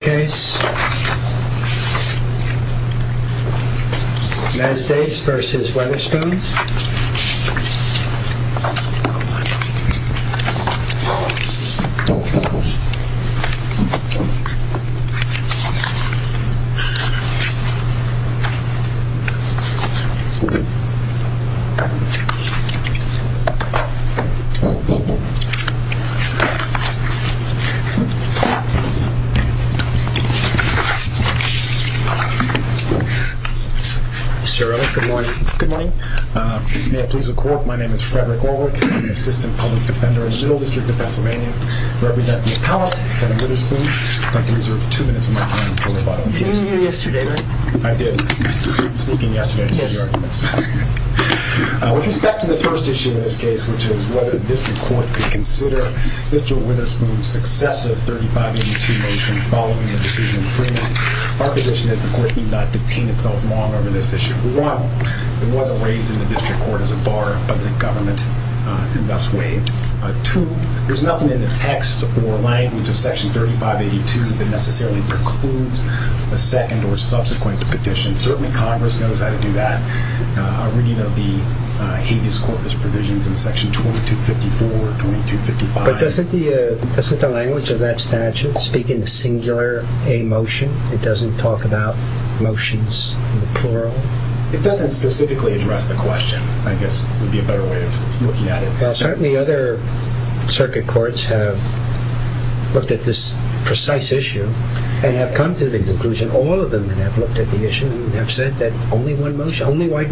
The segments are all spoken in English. case. United States v. Weatherspoon. Mr. Earle, good morning. Good morning. May it please the court, my name is Frederick Orwick. I'm an assistant public defender in the Middle District of Pennsylvania. I represent the appellate, Senator Weatherspoon. I'd like to reserve two minutes of my time for the following cases. You didn't hear yesterday, right? I did. I was just sneaking yesterday to see the arguments. With respect to the first issue in this case, which is whether the district court could consider Mr. Weatherspoon's successive 3582 motion following the decision in Fremont, our position is the court need not detain itself long over this issue. One, there was a raise in the district court as a bar of public government and thus waived. Two, there's nothing in the text or language of section 3582 that necessarily precludes a second or subsequent petition. Certainly Congress knows how to do that. A reading of the habeas corpus provisions in section 2254, 2255. But doesn't the language of that statute speak in the singular a motion? It doesn't talk about motions in the plural? It doesn't specifically address the question. I guess it would be a better way of looking at it. Well, certainly other circuit courts have looked at this precise issue and have come to the conclusion, all of them have looked at the issue and have said that only one motion, Well, I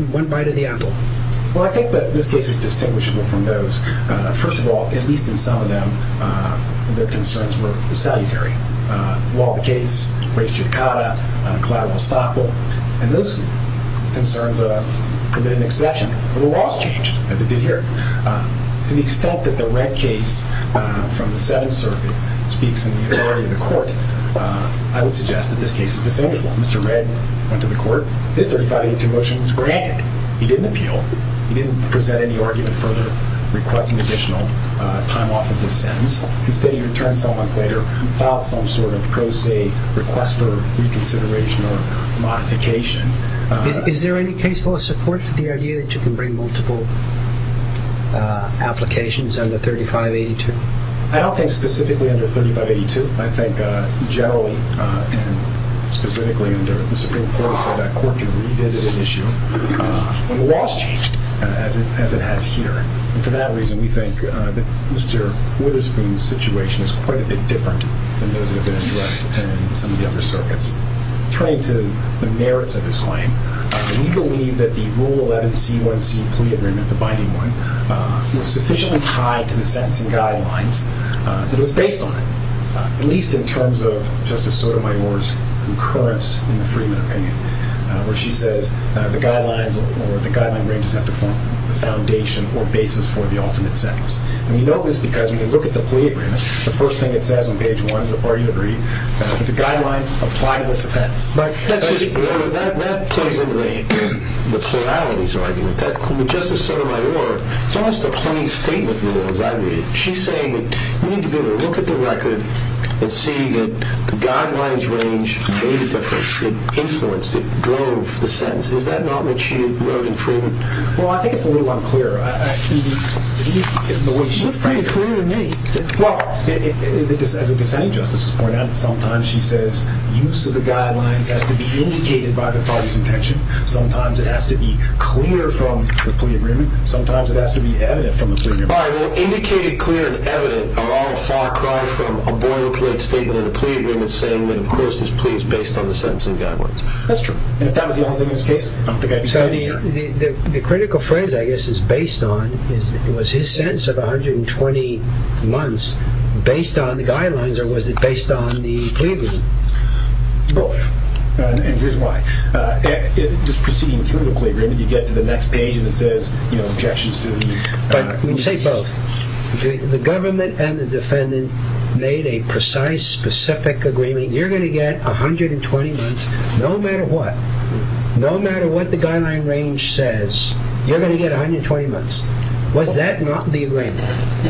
think that this case is distinguishable from those. First of all, at least in some of them, their concerns were salutary. Law of the case, race judicata, collateral estoppel, and those concerns have been an exception. But the laws changed, as it did here. To the extent that the Red case from the Seventh Circuit speaks in the authority of the court, I would suggest that this case is distinguishable. Mr. Red went to the court, his 3582 motion was granted. He didn't appeal. He didn't present any argument further, request an additional time off of his sentence. Instead, he returned some months later, filed some sort of pro se request for reconsideration or modification. Is there any case law support for the idea that you can bring multiple applications under 3582? I don't think specifically under 3582. I think generally, and specifically under the Supreme Court, we said that court can revisit an issue. The laws changed, as it has here. And for that reason, we think that Mr. Witherspoon's situation is quite a bit different than those that have been addressed in some of the other circuits. Turning to the merits of his claim, we believe that the Rule 11C1C plea agreement, the binding one, was sufficiently tied to the sentencing guidelines that was based on it, at least in terms of Justice Sotomayor's concurrence in the Freedman opinion, where she says the guidelines or the guideline ranges have to form the foundation or basis for the ultimate sentence. And we know this because when we look at the plea agreement, the first thing it says on page one is a party to agree that the guidelines apply to this offense. But that plays into the pluralities argument. Justice Sotomayor, it's almost a plain statement rule, as I read it. She's saying that you need to be able to look at the record and see that the guidelines range made a difference. It influenced, it drove the sentence. Is that not what she wrote in Freedman? Well, I think it's a little unclear. She was pretty clear to me. Well, as a dissenting justice has pointed out, sometimes she says use of the guidelines have to be indicated by the party's intention. Sometimes it has to be clear from the plea agreement. Sometimes it has to be evident from the plea agreement. All right, well, indicated, clear, and evident are all a far cry from a boilerplate statement of the plea agreement saying that, of course, this plea is based on the sentencing guidelines. That's true. And if that was the only thing in this case, I don't think I'd be standing here. The critical phrase, I guess, is based on, was his sentence of 120 months based on the guidelines or was it based on the plea agreement? Both. And here's why. Just proceeding through the plea agreement, you get to the next page and it says, you know, objections to the plea agreement. But when you say both, the government and the defendant made a precise, specific agreement. You're going to get 120 months no matter what. No matter what the guideline range says, you're going to get 120 months. Was that not the agreement?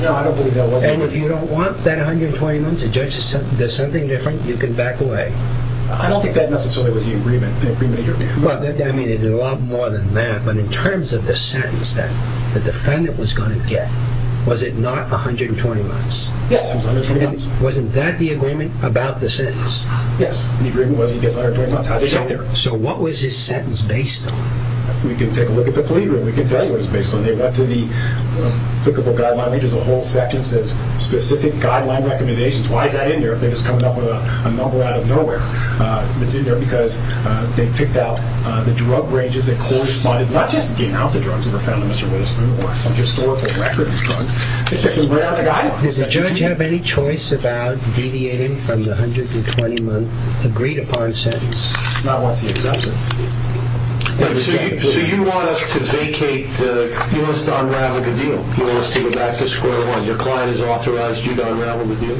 No, I don't believe that was the agreement. And if you don't want that 120 months, the judge said, there's something different, you can back away. I don't think that necessarily was the agreement. Well, I mean, there's a lot more than that. But in terms of the sentence that the defendant was going to get, was it not 120 months? Yes, it was 120 months. And wasn't that the agreement about the sentence? Yes, the agreement was he gets 120 months. So what was his sentence based on? We can take a look at the plea agreement. We can tell you what it's based on. They went to the applicable guideline, which is a whole section that says specific guideline recommendations. Why is that in there if they're just coming up with a number out of nowhere? It's in there because they picked out the drug ranges that corresponded, not just the announced drugs that were found in Mr. Whitt's room, or some historical record of drugs. They picked them right out of the guideline. Does the judge have any choice about deviating from the 120-month agreed-upon sentence? Not once he accepts it. So you want us to vacate the, you want us to unravel the deal? You want us to go back to square one? Your client has authorized you to unravel the deal?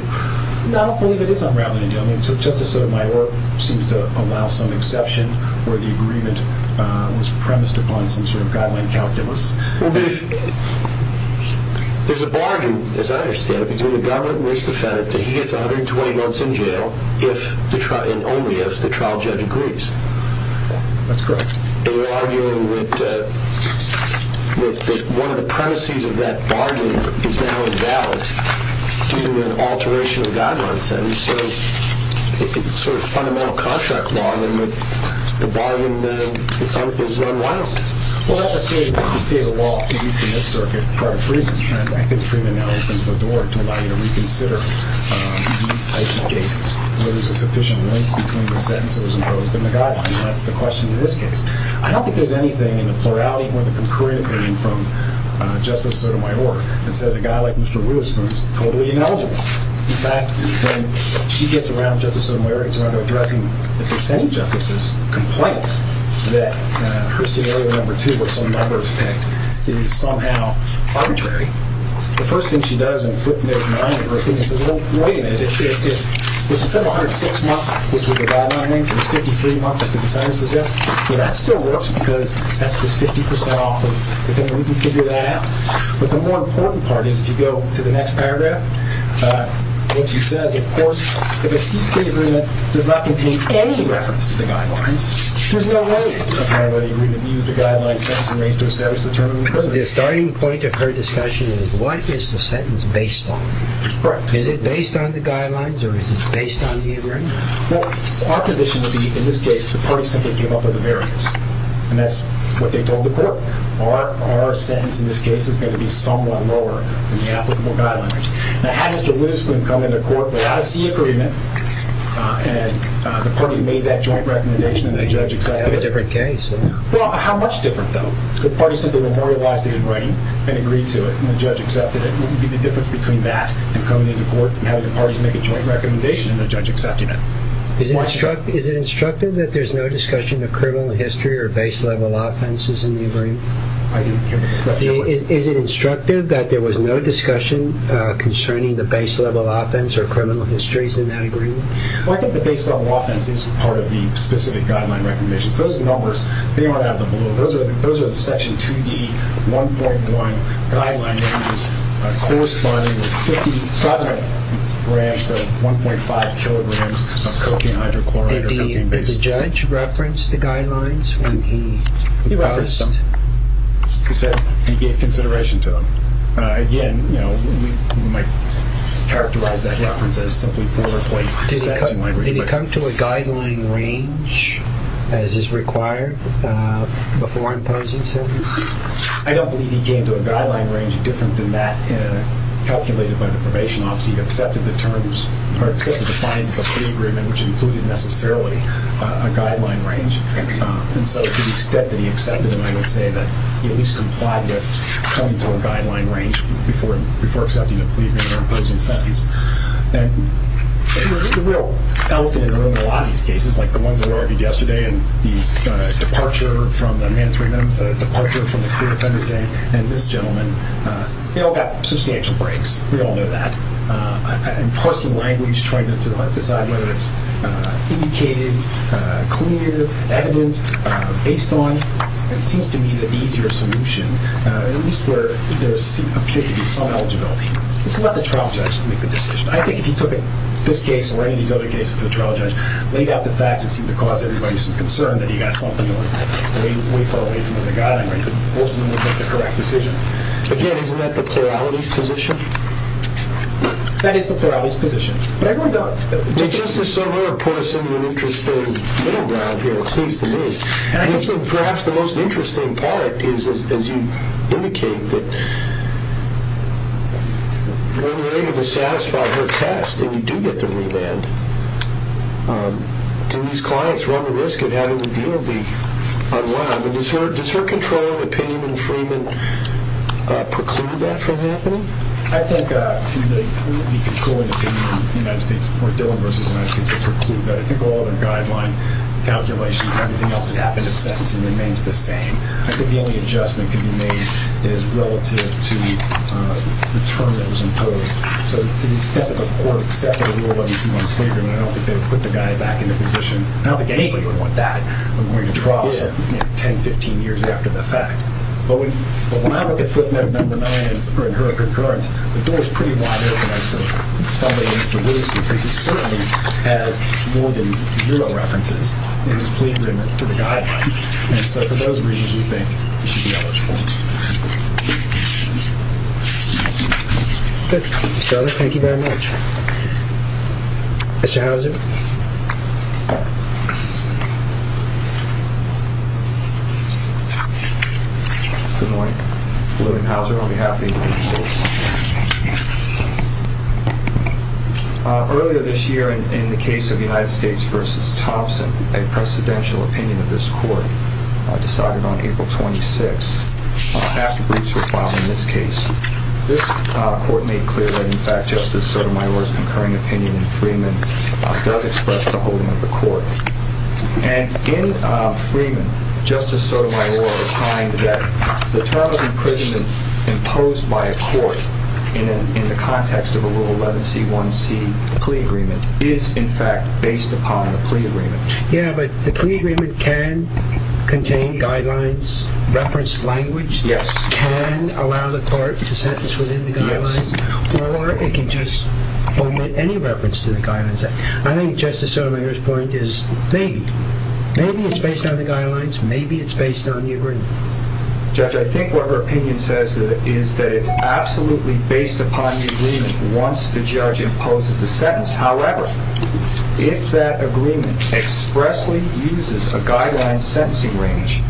No, I don't believe it is unraveling the deal. I mean, Justice Sotomayor seems to allow some exception where the agreement was premised upon some sort of guideline calculus. Well, but if, there's a bargain, as I understand it, between the guideline and this defendant that he gets 120 months in jail if, and only if, the trial judge agrees. That's correct. But we're arguing that one of the premises of that bargain is now invalid due to an alteration of the guideline sentence. So it's sort of fundamental contract law, then, that the bargain is unwound. Well, that's the state of the law, at least in this circuit, part of freedom. And I think freedom now opens the door to allow you to reconsider these types of cases where there's a sufficient length between the sentence that was imposed and the guideline. And that's the question in this case. I don't think there's anything in the plurality or the concurrent opinion from Justice Sotomayor that says a guy like Mr. Lewis who is totally ineligible, in fact, when she gets around Justice Sotomayor, gets around to addressing the dissenting justices, complaining that her scenario number two, which some members picked, is somehow arbitrary, the first thing she does in footnote nine of her opinion is, well, wait a minute. If it's 106 months, which was the guideline, and it's 53 months, as the designer suggests, well, that still works because that's just 50% off of the thing. We can figure that out. But the more important part is, if you go to the next paragraph, what she says, of course, if a CK agreement does not contain any reference to the guidelines, there's no way in the paragraph that you're going to use the guideline sentence in order to establish the term. The starting point of her discussion is, what is the sentence based on? Correct. Is it based on the guidelines, or is it based on the agreement? Well, our position would be, in this case, the party simply gave up on the variance. And that's what they told the court. Our sentence in this case is going to be somewhat lower than the applicable guideline. Now, had Mr. Lewis come into court without a C agreement, and the party made that joint recommendation, and the judge accepted it. You'd have a different case. Well, how much different, though? The party simply memorialized it in writing and agreed to it, and the judge accepted it. What would be the difference between that and coming into court and having the parties make a joint recommendation and the judge accepting it? Is it instructive that there's no discussion of criminal history or base level offenses in the agreement? I didn't hear the question. Is it instructive that there was no discussion concerning the base level offense or criminal histories in that agreement? Well, I think the base level offense is part of the specific guideline recommendations. Those numbers, they are out of the blue. Those are the Section 2D 1.1 guideline names corresponding with 50, probably a branch of 1.5 kilograms of cocaine hydrochloride or cocaine-based. Did the judge reference the guidelines when he passed? He referenced them. He said he gave consideration to them. Again, we might characterize that reference as simply border plate. Did he come to a guideline range as is required before imposing sentence? I don't believe he came to a guideline range different than that calculated by the probation office. He accepted the terms or accepted the fines of a plea agreement, which included necessarily a guideline range. And so to the extent that he accepted them, I would say that he at least complied with coming to a guideline range before accepting a plea agreement or imposing sentence. And the real elephant in the room in a lot of these cases, like the ones that were argued yesterday and these departure from the mandatory minimum, the departure from the clear offender thing, and this gentleman, they all got substantial breaks. We all know that. And parsing language, trying to decide whether it's indicated, clear, evident, based on, it seems to me that the easier solution, at least where there appears to be some eligibility. This is not the trial judge to make the decision. I think if he took this case or any of these other cases to the trial judge, laid out the facts, it seemed to cause everybody some concern that he got something way far away from the guideline range. Because most of them didn't make the correct decision. Again, isn't that the plurality's position? That is the plurality's position. But I don't know. Justice Sotomayor pours in an interesting middle ground here, it seems to me. And I think perhaps the most interesting part is, as you indicate, that when related to satisfy her test, and you do get the remand, do these clients run the risk of having the deal be unwound? And does her controlling opinion in Freeman preclude that from happening? I think she may clearly be controlling opinion in the United States, or Dillon versus the United States would preclude that. I think all of the guideline calculations and everything else that happens in sentencing remains the same. I think the only adjustment can be made is relative to the term that was imposed. So to the extent that the court accepted the rule of E.C. Montgomery Freeman, I don't think they would put the guy back in the position. I don't think anybody would want that. I'm going to trial him 10, 15 years after the fact. But when I look at footnote number nine in her concurrence, the door is pretty wide open I think he certainly has more than zero references in his plea agreement to the guidelines. And so for those reasons, we think he should be eligible. Good. Mr. Sutter, thank you very much. Mr. Houser? Good morning. William Houser on behalf of the United States. Earlier this year in the case of United States versus Thompson, a precedential opinion of this court decided on April 26th. Half the briefs were filed in this case. This court made clear that in fact Justice Sotomayor's concurring opinion in Freeman does express the holding of the court. And in Freeman, Justice Sotomayor replied that the term of imprisonment imposed by a Rule 11c1c plea agreement is in fact based upon a plea agreement. Yeah, but the plea agreement can contain guidelines, reference language, can allow the court to sentence within the guidelines, or it can just omit any reference to the guidelines. I think Justice Sotomayor's point is maybe. Maybe it's based on the guidelines. Maybe it's based on the agreement. Judge, I think what her opinion says is that it's absolutely based upon the agreement once the judge imposes the sentence. However, if that agreement expressly uses a guideline sentencing range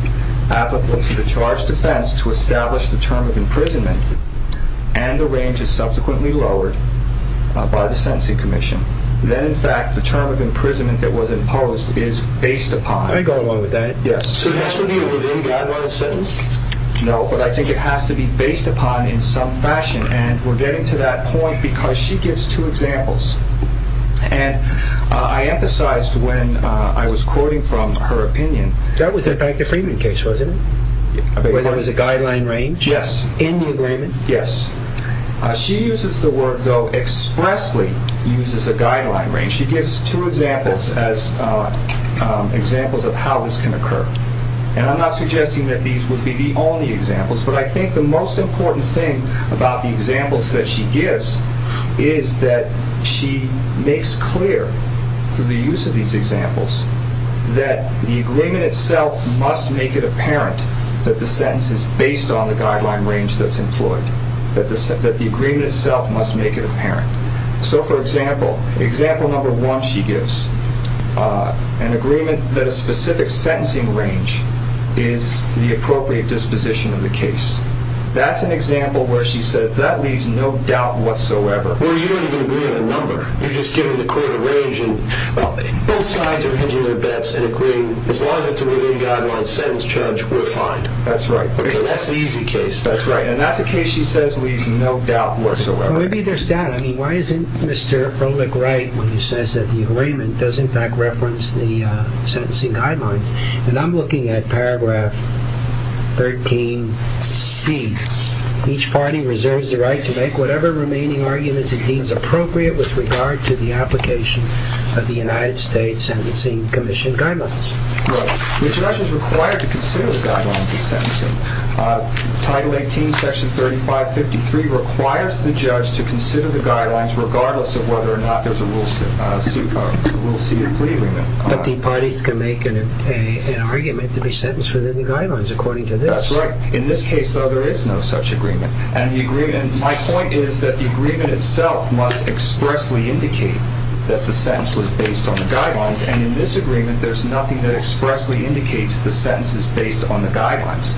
applicable to the charged defense to establish the term of imprisonment and the range is subsequently lowered by the sentencing commission, then in fact the term of imprisonment that was imposed is based upon. Let me go along with that. Yes. So it has to be a within-guidelines sentence? No, but I think it has to be based upon in some fashion, and we're getting to that point because she gives two examples. And I emphasized when I was quoting from her opinion. That was in fact a Freeman case, wasn't it? Where there was a guideline range? Yes. In the agreement? Yes. She uses the word, though, expressly uses a guideline range. And she gives two examples as examples of how this can occur. And I'm not suggesting that these would be the only examples, but I think the most important thing about the examples that she gives is that she makes clear through the use of these examples that the agreement itself must make it apparent that the sentence is based on the guideline range that's employed. That the agreement itself must make it apparent. So for example, example number one she gives, an agreement that a specific sentencing range is the appropriate disposition of the case. That's an example where she says that leaves no doubt whatsoever. Well, you don't even agree on a number. You're just giving the court a range, and both sides are hedging their bets and agreeing as long as it's a within-guidelines sentence charge, we're fine. That's right. That's the easy case. That's right. And that's a case she says leaves no doubt whatsoever. Well, maybe there's data. I mean, why isn't Mr. Frohlich right when he says that the agreement does in fact reference the sentencing guidelines? And I'm looking at paragraph 13C. Each party reserves the right to make whatever remaining arguments it deems appropriate with regard to the application of the United States Sentencing Commission guidelines. Well, the introduction is required to consider the guidelines of sentencing. Title 18, section 3553 requires the judge to consider the guidelines regardless of whether or not there's a rule C of plea agreement. But the parties can make an argument to be sentenced within the guidelines according to this. That's right. In this case, though, there is no such agreement. And my point is that the agreement itself must expressly indicate that the sentence was based on the guidelines. And in this agreement, there's nothing that expressly indicates the sentence is based on the guidelines.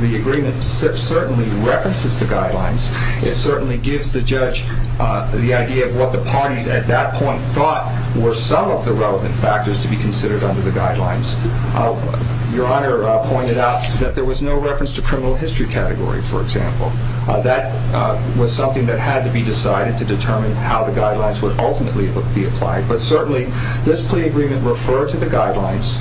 The agreement certainly references the guidelines. It certainly gives the judge the idea of what the parties at that point thought were some of the relevant factors to be considered under the guidelines. Your Honor pointed out that there was no reference to criminal history category, for example. That was something that had to be decided to determine how the guidelines would ultimately But certainly, this plea agreement referred to the guidelines.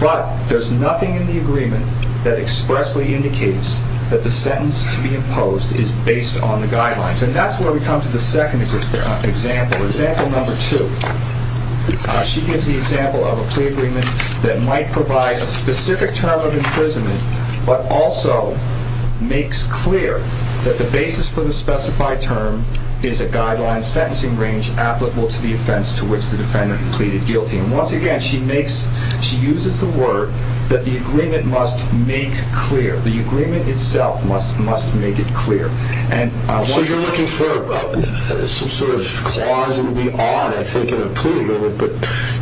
But there's nothing in the agreement that expressly indicates that the sentence to be imposed is based on the guidelines. And that's where we come to the second example, example number two. She gives the example of a plea agreement that might provide a specific term of imprisonment but also makes clear that the basis for the specified term is a guideline sentencing range applicable to the offense to which the defendant pleaded guilty. And once again, she uses the word that the agreement must make clear. The agreement itself must make it clear. So you're looking for some sort of clause in the odd, I think, in a plea. But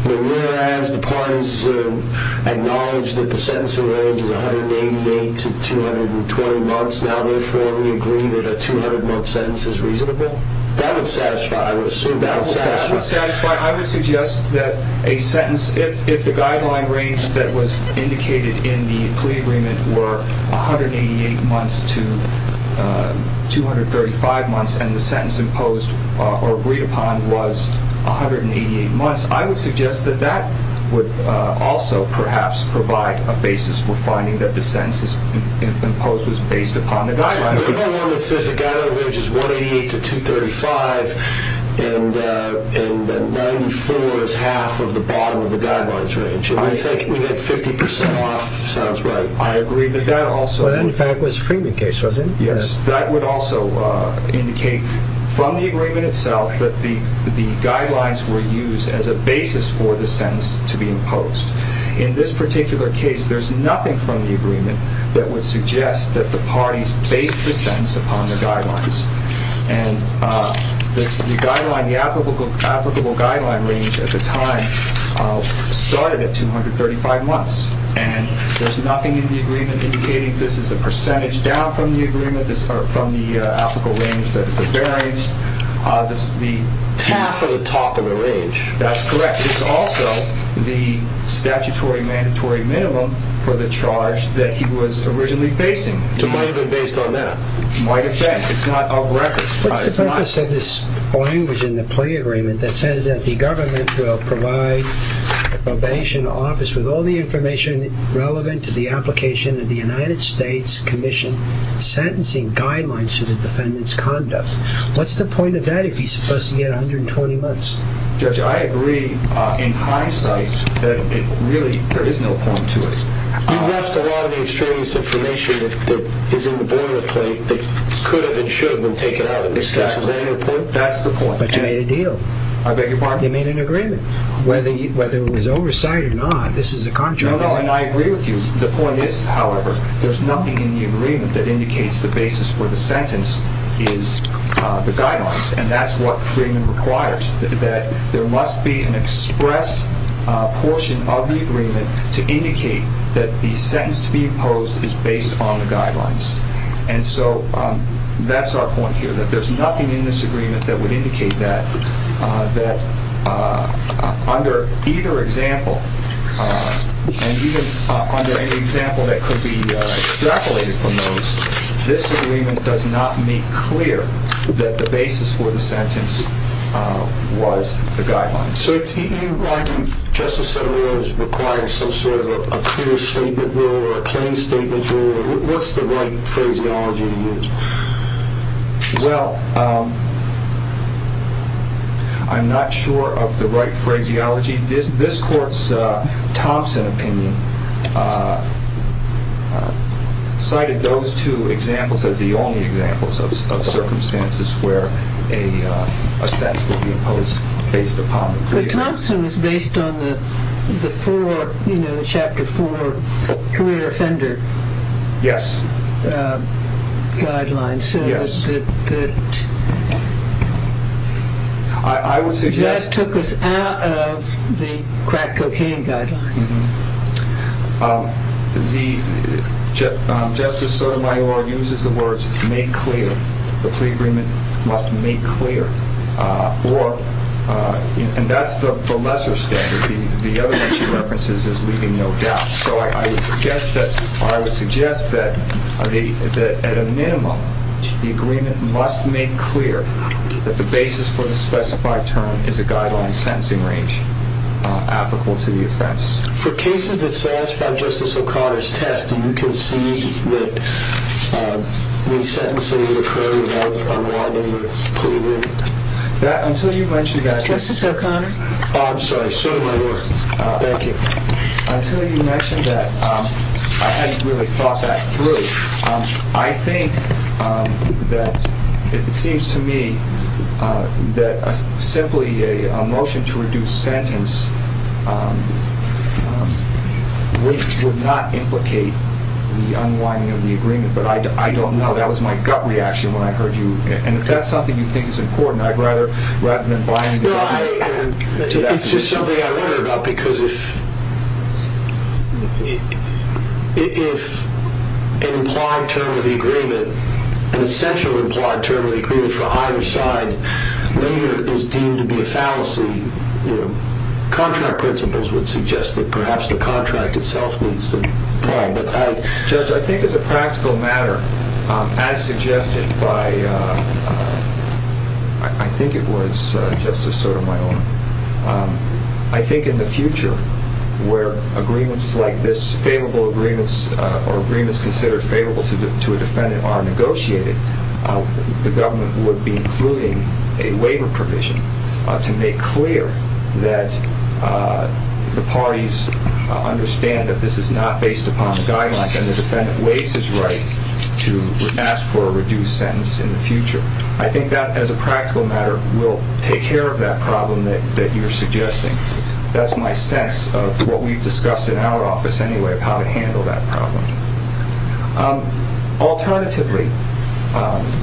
whereas the parties acknowledge that the sentencing range is 188 to 220 months, now therefore we agree that a 200-month sentence is reasonable? That would satisfy. I would assume that would satisfy. That would satisfy. I would suggest that a sentence, if the guideline range that was indicated in the plea agreement were 188 months to 235 months and the sentence imposed or agreed upon was 188 months, I would suggest that that would also perhaps provide a basis for finding that the sentence imposed was based upon the guidelines. There's no one that says the guideline range is 188 to 235 and 94 is half of the bottom of the guidelines range. I think we get 50 percent off. Sounds right. I agree. But that also... That, in fact, was Freeman's case, wasn't it? Yes. That would also indicate from the agreement itself that the guidelines were used as a basis for the sentence to be imposed. In this particular case, there's nothing from the agreement that would suggest that the sentence was based upon the guidelines. And the applicable guideline range at the time started at 235 months. And there's nothing in the agreement indicating this is a percentage down from the agreement, from the applicable range that is the variance. This is the... Half of the top of the range. That's correct. It's also the statutory mandatory minimum for the charge that he was originally facing. So it might have been based on that. It might have been. It's not off record. What's the purpose of this language in the plea agreement that says that the government will provide a probation office with all the information relevant to the application of the United States Commission sentencing guidelines to the defendant's conduct? What's the point of that if he's supposed to get 120 months? Judge, I agree in hindsight that it really... There is no point to it. You've lost a lot of the extraneous information that is in the boilerplate that could have and should have been taken out of this. Is that your point? That's the point. But you made a deal. I beg your pardon? You made an agreement. Whether it was oversight or not, this is a contrary... No, no, and I agree with you. The point is, however, there's nothing in the agreement that indicates the basis for the sentence is the guidelines, and that's what Freeman requires, that there must be an express portion of the agreement to indicate that the sentence to be imposed is based on the guidelines. And so that's our point here, that there's nothing in this agreement that would indicate that under either example, and even under an example that could be extrapolated from those, this agreement does not make clear that the basis for the sentence was the guidelines. So it's even your argument, Justice Sotomayor, that it requires some sort of a clear statement rule or a plain statement rule? What's the right phraseology to use? Well, I'm not sure of the right phraseology. This court's Thompson opinion cited those two examples as the only examples of circumstances where a sentence would be imposed based upon the clear... But Thompson was based on the chapter four career offender guidelines. Yes. I would suggest... That took us out of the crack cocaine guidelines. Justice Sotomayor uses the words, make clear. The plea agreement must make clear. And that's the lesser standard. The other one she references is leaving no doubt. So I would suggest that at a minimum, the agreement must make clear that the basis for the specified term is a guideline sentencing range applicable to the offense. For cases that satisfy Justice O'Connor's test, do you concede that resentencing would occur without a law number proven? Justice O'Connor? Oh, I'm sorry. Sotomayor. Thank you. Until you mentioned that, I hadn't really thought that through. I think that it seems to me that simply a motion to reduce sentence would not implicate the unwinding of the agreement. But I don't know. That was my gut reaction when I heard you. And if that's something you think is important, I'd rather... It's just something I wonder about. Because if an implied term of the agreement, an essential implied term of the agreement for either side later is deemed to be a fallacy, contract principles would suggest that perhaps I think as a practical matter, as suggested by, I think it was Justice Sotomayor, I think in the future where agreements like this favorable agreements or agreements considered favorable to a defendant are negotiated, the government would be including a waiver provision to make clear that the parties understand that this is not based upon the guidelines and the defendant waits his right to ask for a reduced sentence in the future. I think that as a practical matter will take care of that problem that you're suggesting. That's my sense of what we've discussed in our office anyway of how to handle that problem. Alternatively,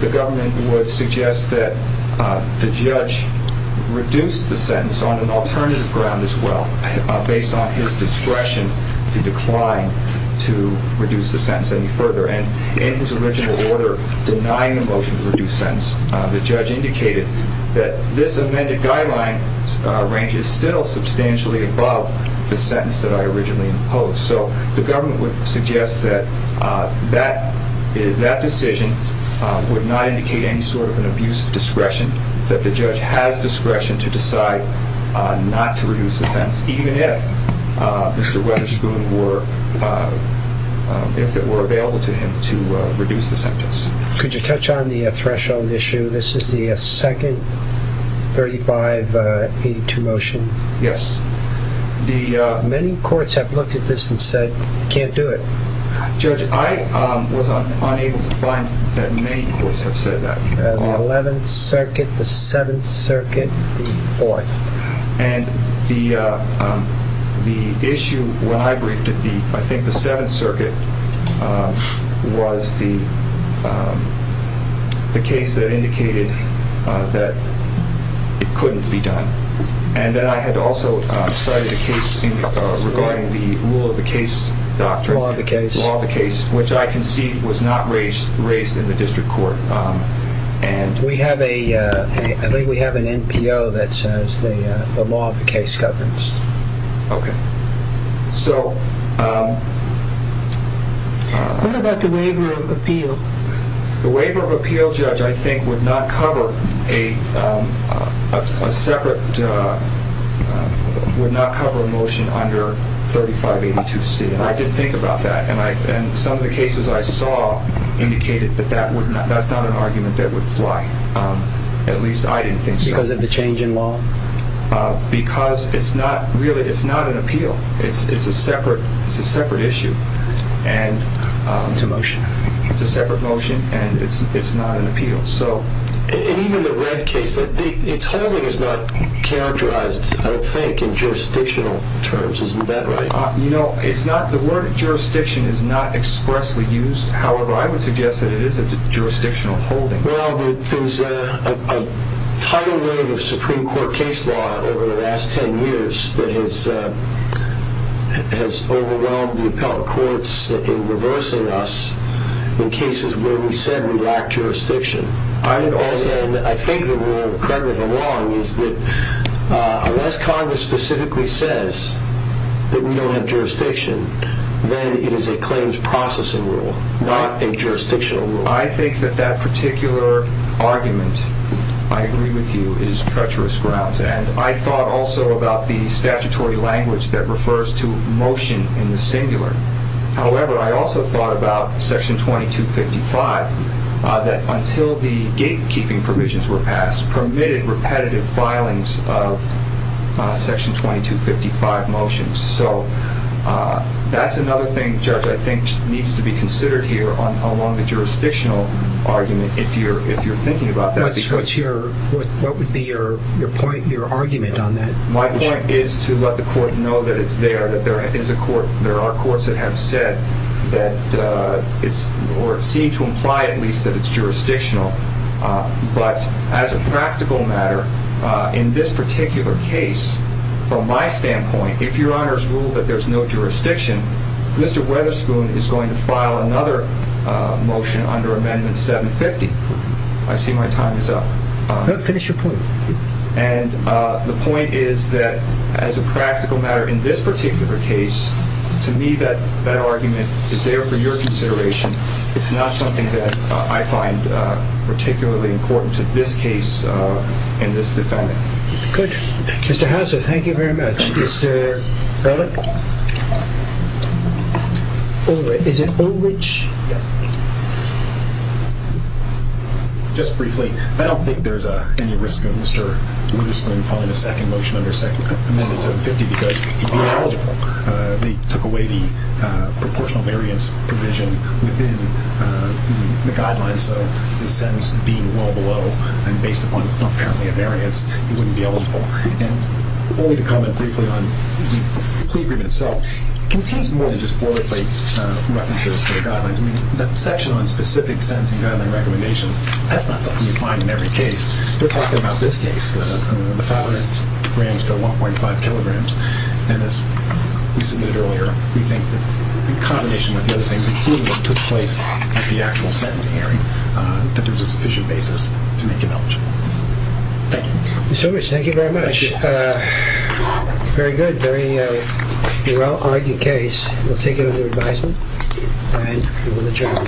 the government would suggest that the judge reduce the sentence on an alternative ground as well based on his discretion to decline to reduce the sentence any further. And in his original order denying a motion to reduce sentence, the judge indicated that this amended guideline ranges still substantially above the sentence that I originally imposed. So the government would suggest that that decision would not indicate any sort of an abusive discretion, that the judge has discretion to decide not to reduce the sentence even if Mr. Wetherspoon were, if it were available to him to reduce the sentence. Could you touch on the threshold issue? This is the second 3582 motion. Yes. Many courts have looked at this and said you can't do it. Judge, I was unable to find that many courts have said that. The 11th Circuit, the 7th Circuit, the 4th. And the issue when I briefed at the, I think the 7th Circuit was the case that indicated that it couldn't be done. And then I had also cited a case regarding the rule of the case doctrine. Law of the case. Law of the case, which I concede was not raised in the district court. We have a, I think we have an NPO that says the law of the case governs. Okay. So. What about the waiver of appeal? The waiver of appeal, Judge, I think would not cover a separate, would not cover a motion under 3582C. And I did think about that. And some of the cases I saw indicated that that's not an argument that would fly. At least I didn't think so. Because of the change in law? Because it's not really, it's not an appeal. It's a separate issue. It's a motion. It's a separate motion. And it's not an appeal. So. And even the red case, it's holding is not characterized, I don't think, in jurisdictional terms. Isn't that right? You know, it's not, the word jurisdiction is not expressly used. However, I would suggest that it is a jurisdictional holding. Well, there's a tidal wave of Supreme Court case law over the last 10 years that has overwhelmed the appellate courts in reversing us in cases where we said we lack jurisdiction. I think the rule, correct me if I'm wrong, is that unless Congress specifically says that we don't have jurisdiction, then it is a claims processing rule, not a jurisdictional rule. I think that that particular argument, I agree with you, is treacherous grounds. And I thought also about the statutory language that refers to motion in the singular. However, I also thought about Section 2255, that until the gatekeeping provisions were passed, permitted repetitive filings of Section 2255 motions. So that's another thing, Judge, I think needs to be considered here along the jurisdictional argument, if you're thinking about that. What would be your argument on that? My point is to let the court know that it's there, that there are courts that have said, or seem to imply at least, that it's jurisdictional. But as a practical matter, in this particular case, from my standpoint, if Your Honor's ruled that there's no jurisdiction, Mr. Weatherspoon is going to file another motion under Amendment 750. I see my time is up. No, finish your point. And the point is that as a practical matter, in this particular case, to me that argument is there for your consideration. It's not something that I find particularly important to this case and this defendant. Good. Mr. Houser, thank you very much. Thank you very much, Mr. Bellek. Is it Olich? Yes. Just briefly, I don't think there's any risk of Mr. Weatherspoon filing a second motion under Amendment 750 because he'd be ineligible. They took away the proportional variance provision within the guidelines, so his sentence being well below and based upon apparently a variance, he wouldn't be eligible. And only to comment briefly on the plea agreement itself, it contains more than just wordplay references to the guidelines. I mean, that section on specific sentencing guideline recommendations, that's not something you find in every case. We're talking about this case, the 500 grams to 1.5 kilograms. And as we submitted earlier, we think that in combination with the other things included, it took place at the actual sentencing hearing that there was a sufficient basis to make him eligible. Mr. Weathers, thank you very much. Very good. Very well-argued case. We'll take it under advisement and we will adjourn.